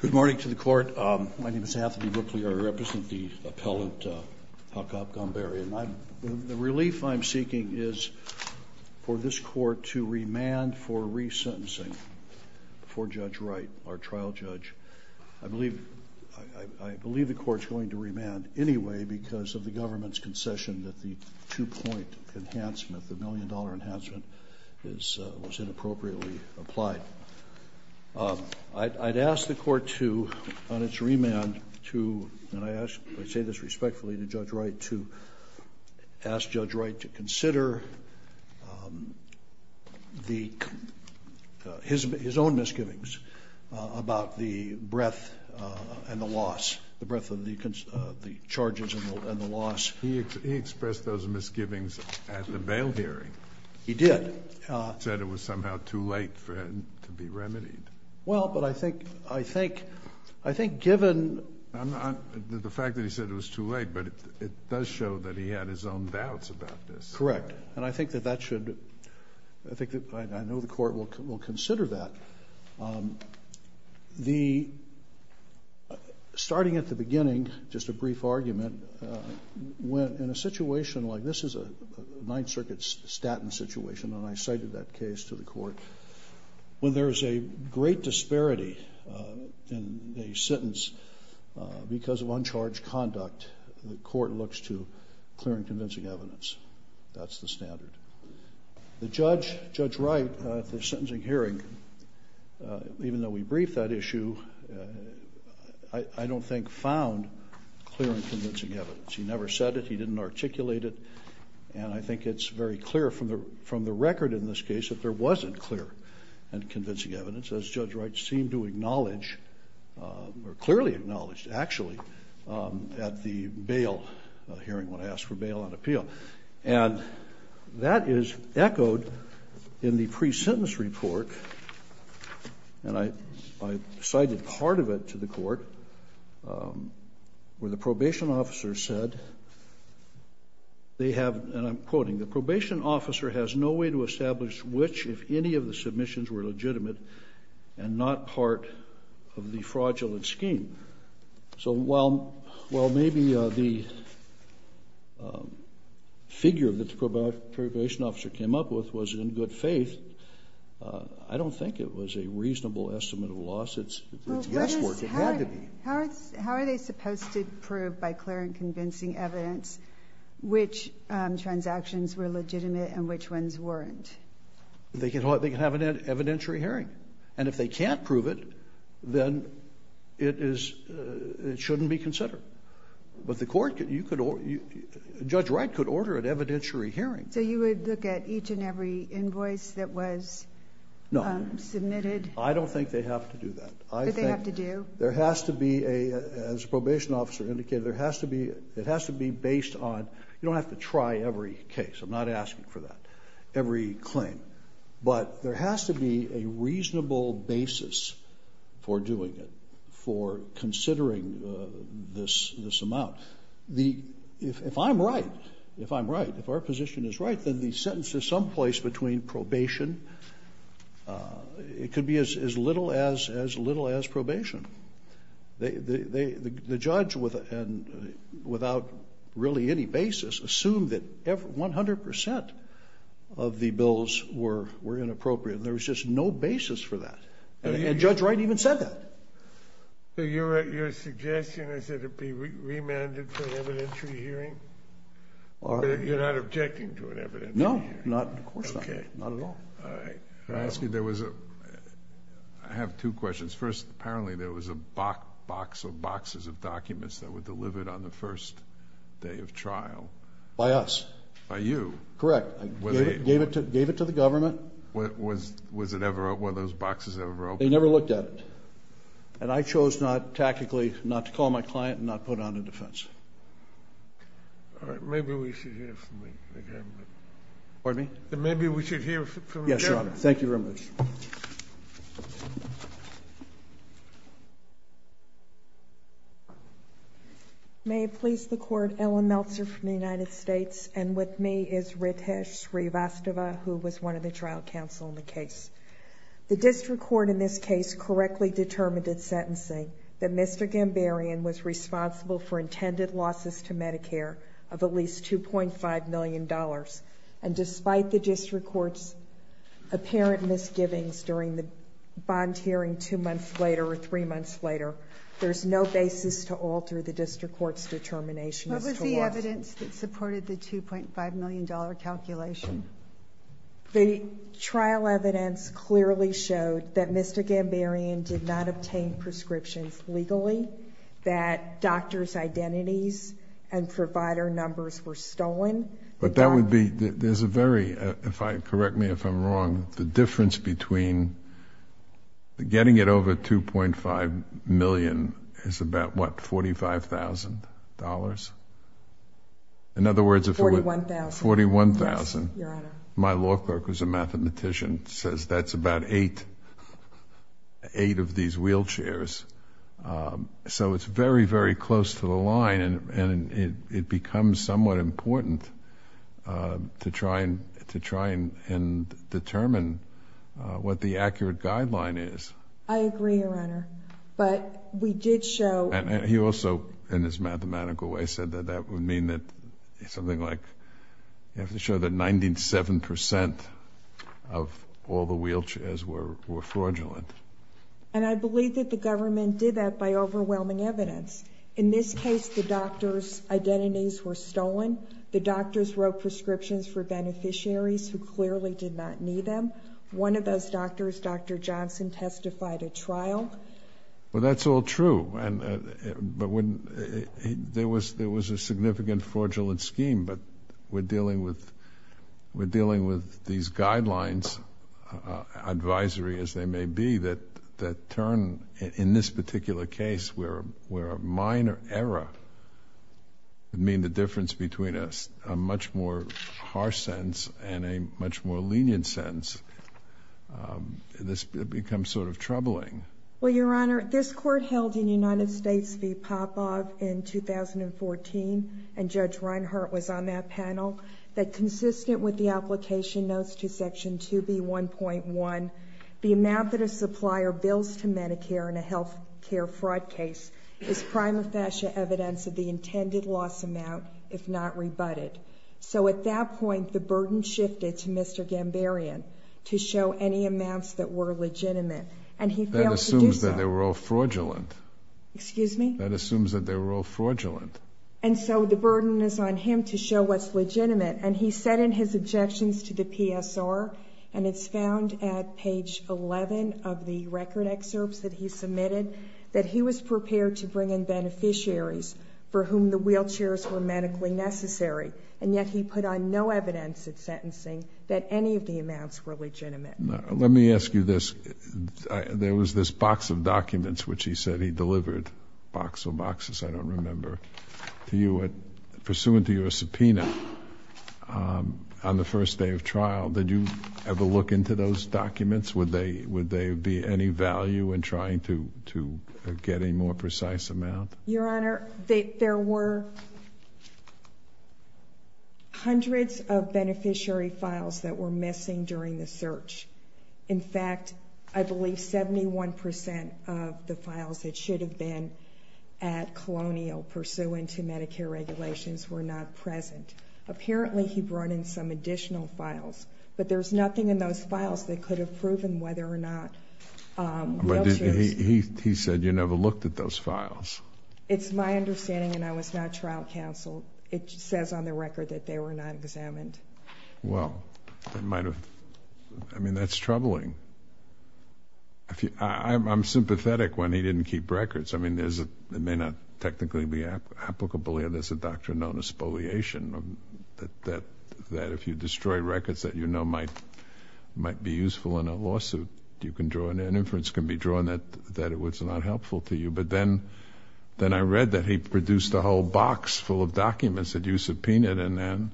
Good morning to the court. My name is Anthony Ripley. I represent the appellant, Hakop Gambaryan. The relief I'm seeking is for this court to remand for resentencing for Judge Wright, our trial judge. I believe the court's going to remand anyway because of the government's concession that the two-point enhancement, the million-dollar enhancement, was inappropriately applied. I'd ask the court to, on its remand, to, and I say this respectfully to Judge Wright, to ask Judge Wright to consider his own misgivings about the breadth and the loss, the breadth of the charges and the loss. He expressed those misgivings at the bail hearing. He did. He said it was somehow too late for it to be remedied. Well, but I think, I think, I think given the fact that he said it was too late, but it does show that he had his own doubts about this. Correct. And I think that that should, I think, I know the court will consider that. The, starting at the beginning, just a brief argument, when in a situation like this is a Ninth Circuit statin situation, and I cited that case to the court, when there is a great disparity in a sentence because of uncharged conduct, the court looks to clear and convincing evidence. That's the standard. The judge, Judge Wright, at the sentencing hearing, even though we briefed that issue, I don't think found clear and convincing evidence. He never said it. He didn't articulate it. And I think it's very clear from the record in this case that there wasn't clear and convincing evidence, as Judge Wright seemed to acknowledge, or clearly acknowledged, actually, at the bail hearing when asked for bail on appeal. And that is echoed in the pre-sentence report, and I cited part of it to the court, where the probation officer said they have, and I'm quoting, the probation officer has no way to establish which, if any, of the submissions were legitimate and not part of the fraudulent scheme. So while maybe the figure that the probation officer came up with was in good faith, I don't think it was a reasonable estimate of loss. It's guesswork. It had to be. How are they supposed to prove by clear and convincing evidence which transactions were legitimate and which ones weren't? They can have an evidentiary hearing. And if they can't prove it, then it is, it shouldn't be considered. But the court could, you could, Judge Wright could order an evidentiary hearing. So you would look at each and every invoice that was submitted? No. I don't think they have to do that. Do they have to do? There has to be a, as the probation officer indicated, there has to be, it has to be based on, you don't have to try every case. I'm not asking for that, every claim. But there has to be a reasonable basis for doing it, for considering this amount. The, if I'm right, if I'm right, if our position is right, then the sentence is someplace between probation, it could be as little as probation. The judge, without really any basis, assumed that 100% of the bills were inappropriate. There was just no basis for that. And Judge Wright even said that. So your suggestion is that it be remanded for an evidentiary hearing? You're not objecting to an evidentiary hearing? No, not, of course not. Okay. Not at all. All right. May I ask you, there was a, I have two questions. First, apparently there was a box or boxes of documents that were delivered on the first day of trial. By us. By you. Correct. I gave it to the government. Was it ever, were those boxes ever opened? They never looked at it. And I chose not, tactically, not to call my client and not put on a defense. All right. Maybe we should hear from the government. Pardon me? Maybe we should hear from the government. Yes, Your Honor. Thank you very much. May it please the Court, Ellen Meltzer from the United States, and with me is Ritesh Srivastava, who was one of the trial counsel in the case. The district court in this case correctly determined in sentencing that Mr. Gambarian was responsible for intended losses to Medicare of at least $2.5 million. And despite the district court's apparent misgivings during the bond hearing two months later or three months later, there's no basis to alter the district court's determination as to loss. What was the evidence that supported the $2.5 million calculation? The trial evidence clearly showed that Mr. Gambarian did not obtain prescriptions legally, that doctor's identities and provider numbers were stolen. But that would be, there's a very, correct me if I'm wrong, the difference between getting it over $2.5 million is about what, $45,000? $41,000. $41,000. Yes, Your Honor. My law clerk, who's a mathematician, says that's about eight of these wheelchairs. So it's very, very close to the line and it becomes somewhat important to try and determine what the accurate guideline is. I agree, Your Honor. But we did show... And he also, in his mathematical way, said that that would mean that something like, you have to show that 97% of all the wheelchairs were fraudulent. And I believe that the government did that by overwhelming evidence. In this case, the doctor's identities were stolen. The doctors wrote prescriptions for beneficiaries who clearly did not need them. One of those doctors, Dr. Johnson, testified at trial. Well, that's all true. There was a significant fraudulent scheme, but we're dealing with these guidelines, advisory as they may be, that turn, in this particular case, where a minor error would mean the difference between a much more harsh sentence and a much more lenient sentence. This becomes sort of troubling. Well, Your Honor, this Court held in United States v. Popov in 2014, and Judge B1.1, the amount that a supplier bills to Medicare in a health care fraud case is prima facie evidence of the intended loss amount, if not rebutted. So at that point, the burden shifted to Mr. Gambarian to show any amounts that were legitimate, and he failed to do so. That assumes that they were all fraudulent. Excuse me? That assumes that they were all fraudulent. And so the burden is on him to show what's legitimate. And he said in his objections to the PSR, and it's found at page 11 of the record excerpts that he submitted, that he was prepared to bring in beneficiaries for whom the wheelchairs were medically necessary, and yet he put on no evidence at sentencing that any of the amounts were legitimate. Let me ask you this. There was this box of documents which he said he delivered, box or boxes, I don't know, on the first day of trial. Did you ever look into those documents? Would they be any value in trying to get a more precise amount? Your Honor, there were hundreds of beneficiary files that were missing during the search. In fact, I believe 71 percent of the files that should have been at Colonial pursuant to Medicare regulations were not present. Apparently he brought in some additional files, but there's nothing in those files that could have proven whether or not wheelchairs But he said you never looked at those files. It's my understanding, and I was not trial counseled. It says on the record that they were not examined. Well, that might have, I mean, that's troubling. I'm sympathetic when he didn't keep records. I mean, it may not technically be applicable here. There's a doctrine known as spoliation, that if you destroy records that you know might be useful in a lawsuit, an inference can be drawn that it was not helpful to you. But then I read that he produced a whole box full of documents that you subpoenaed, and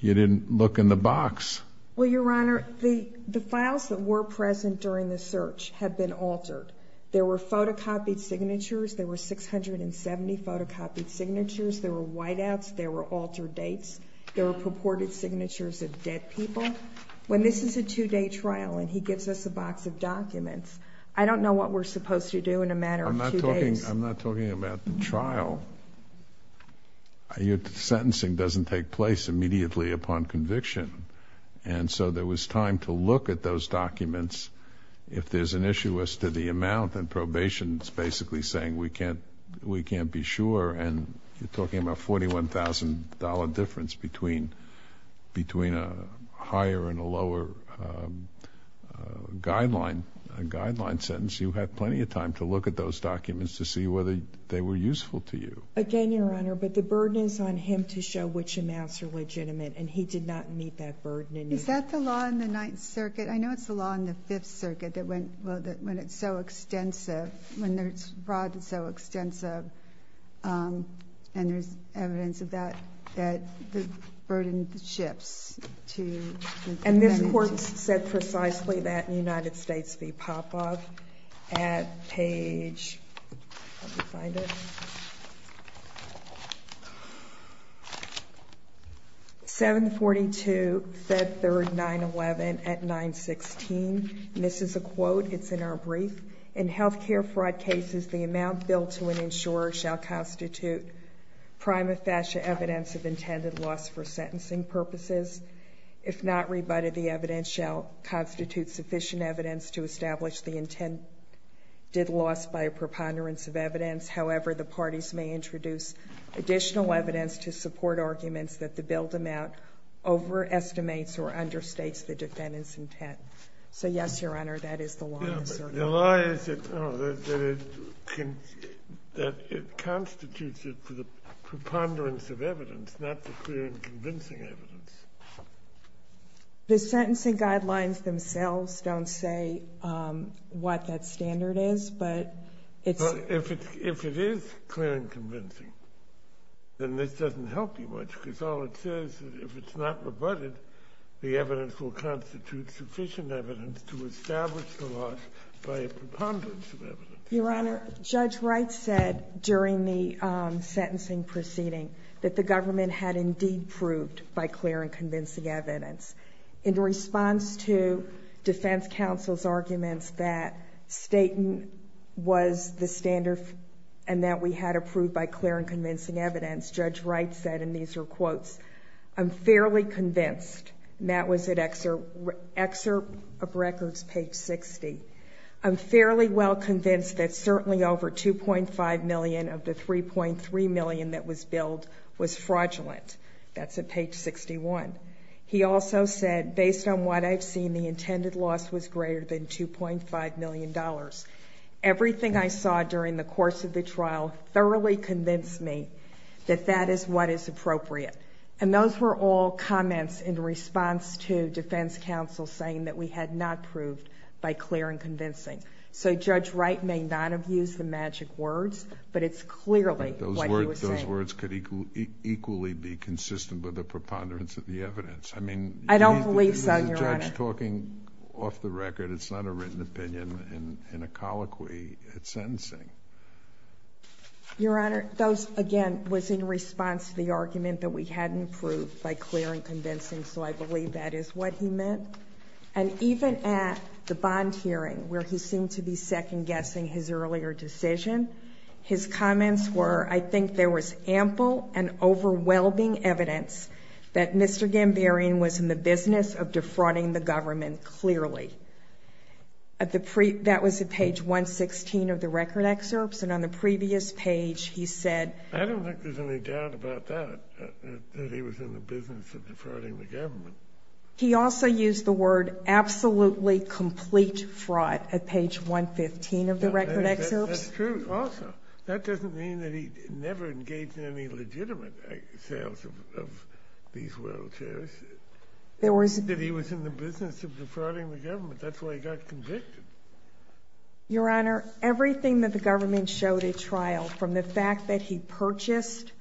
you didn't look in the box. Well, Your Honor, the files that were present during the search had been altered. There were photocopied signatures. There were 670 photocopied signatures. There were whiteouts. There were altered dates. There were purported signatures of dead people. When this is a two-day trial and he gives us a box of documents, I don't know what we're supposed to do in a matter of two days. I'm not talking about the trial. Your sentencing doesn't take place immediately upon conviction. And so there was time to look at those documents if there's an issue as to the amount. And probation is basically saying we can't be sure. And you're talking about $41,000 difference between a higher and a lower guideline sentence. You had plenty of time to look at those documents to see whether they were useful to you. Again, Your Honor, but the burden is on him to show which amounts are legitimate, and he did not meet that burden. Is that the law in the Ninth Circuit? I know it's the law in the Fifth Circuit that when it's so extensive, when it's broad and so extensive, and there's evidence of that, that the burden shifts to the defendants. And this court said precisely that in United States v. Popov at page 742, Fed Third 911 at 916, and this is a quote. It's in our brief. In health care fraud cases, the amount billed to an insurer shall constitute prima facie evidence of intended loss for sentencing purposes. If not rebutted, the evidence shall constitute sufficient evidence to establish the intended loss by a preponderance of evidence. However, the parties may introduce additional evidence to support arguments that the billed amount overestimates or understates the defendant's intent. So, yes, Your Honor, that is the law in the circuit. The law is that it constitutes it for the preponderance of evidence, not the clear and convincing evidence. The sentencing guidelines themselves don't say what that standard is, but it's – Well, if it is clear and convincing, then this doesn't help you much, because all it says is if it's not rebutted, the evidence will constitute sufficient evidence to establish the loss by a preponderance of evidence. Your Honor, Judge Wright said during the sentencing proceeding that the government had indeed proved by clear and convincing evidence. In response to defense counsel's arguments that Staton was the standard and that we had approved by clear and convincing evidence, Judge Wright said, and these are quotes, I'm fairly convinced, and that was at Excerpt of Records, page 60, I'm fairly well convinced that certainly over $2.5 million of the $3.3 million that was billed was fraudulent. That's at page 61. He also said, based on what I've seen, the intended loss was greater than $2.5 million. Everything I saw during the course of the trial thoroughly convinced me that that is what is appropriate. And those were all comments in response to defense counsel saying that we had not proved by clear and convincing. So Judge Wright may not have used the magic words, but it's clearly what he was saying. The words could equally be consistent with the preponderance of the evidence. I mean, he's the judge talking off the record. It's not a written opinion in a colloquy at sentencing. Your Honor, those, again, was in response to the argument that we hadn't proved by clear and convincing, so I believe that is what he meant. And even at the bond hearing, where he seemed to be second-guessing his earlier decision, his comments were, I think there was ample and overwhelming evidence that Mr. Gambarian was in the business of defrauding the government clearly. That was at page 116 of the record excerpts, and on the previous page he said ---- I don't think there's any doubt about that, that he was in the business of defrauding the government. He also used the word absolutely complete fraud at page 115 of the record excerpts. That's true also. That doesn't mean that he never engaged in any legitimate sales of these world shares. There was ---- That he was in the business of defrauding the government. That's why he got convicted. Your Honor, everything that the government showed at trial, from the fact that he purchased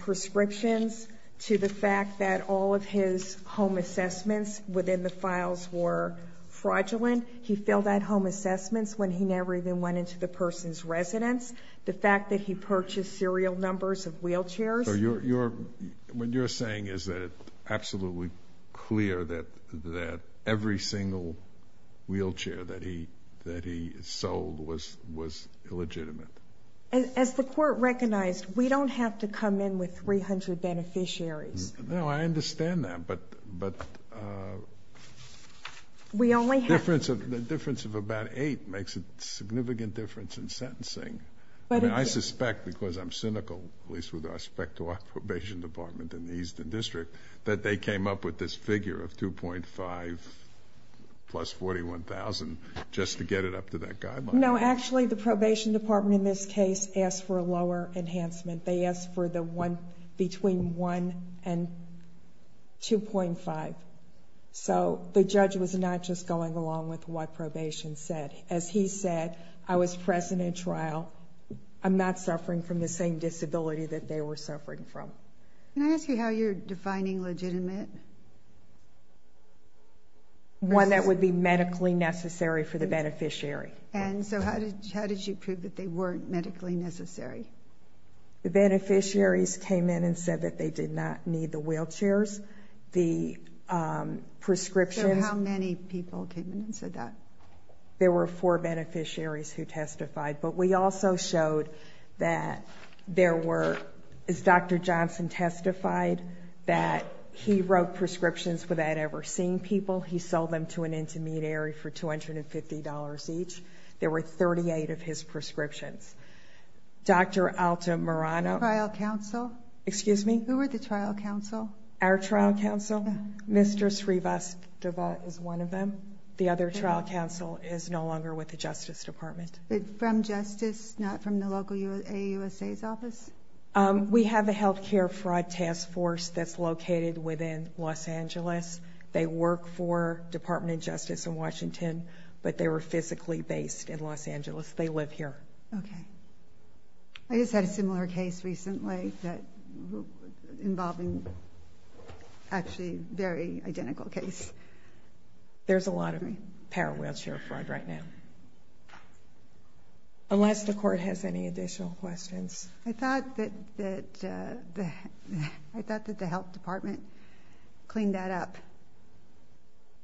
prescriptions to the fact that all of his home assessments within the files were fraudulent, he failed at home assessments when he never even went into the person's residence, the fact that he purchased serial numbers of wheelchairs. So you're ---- what you're saying is that it's absolutely clear that every single wheelchair that he sold was illegitimate. As the Court recognized, we don't have to come in with 300 beneficiaries. No, I understand that, but ---- We only have ---- The difference of about 8 makes a significant difference in sentencing. I mean, I suspect because I'm cynical, at least with respect to our probation department in the Eastern District, that they came up with this figure of 2.5 plus 41,000 just to get it up to that guideline. No, actually, the probation department in this case asked for a lower enhancement. They asked for the one between 1 and 2.5. So the judge was not just going along with what probation said. As he said, I was present in trial. I'm not suffering from the same disability that they were suffering from. Can I ask you how you're defining legitimate? One that would be medically necessary for the beneficiary. And so how did you prove that they weren't medically necessary? The beneficiaries came in and said that they did not need the wheelchairs. The prescriptions ---- So how many people came in and said that? There were four beneficiaries who testified. But we also showed that there were, as Dr. Johnson testified, that he wrote prescriptions without ever seeing people. He sold them to an intermediary for $250 each. There were 38 of his prescriptions. Dr. Alta Morano ---- The trial counsel? Excuse me? Who were the trial counsel? Our trial counsel. Mr. Srivastava is one of them. The other trial counsel is no longer with the Justice Department. But from Justice, not from the local AUSA's office? We have a health care fraud task force that's located within Los Angeles. They work for Department of Justice in Washington, but they were physically based in Los Angeles. They live here. Okay. I just had a similar case recently involving actually a very identical case. There's a lot of power wheelchair fraud right now. Unless the Court has any additional questions. I thought that the health department cleaned that up.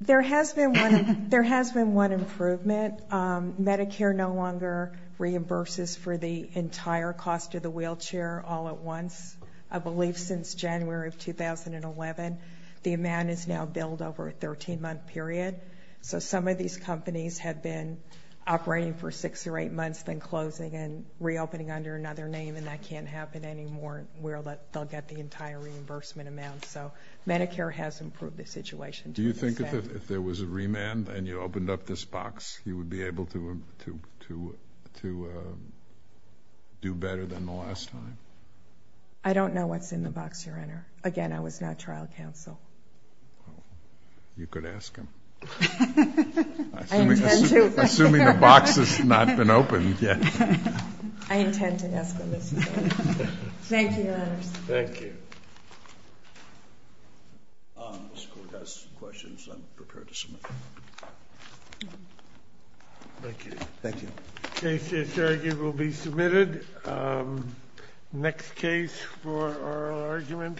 There has been one improvement. Medicare no longer reimburses for the entire cost of the wheelchair all at once. I believe since January of 2011, the amount is now billed over a 13-month period. So some of these companies have been operating for six or eight months, then closing and reopening under another name, and that can't happen anymore where they'll get the entire reimbursement amount. So Medicare has improved the situation. Do you think if there was a remand and you opened up this box, you would be able to do better than the last time? I don't know what's in the box, Your Honor. Again, I was not trial counsel. You could ask him. Assuming the box has not been opened yet. I intend to ask him this question. Thank you, Your Honor. Thank you. Mr. Court has questions. I'm prepared to submit them. Thank you. Thank you. The case is surrogate will be submitted. Next case for oral argument.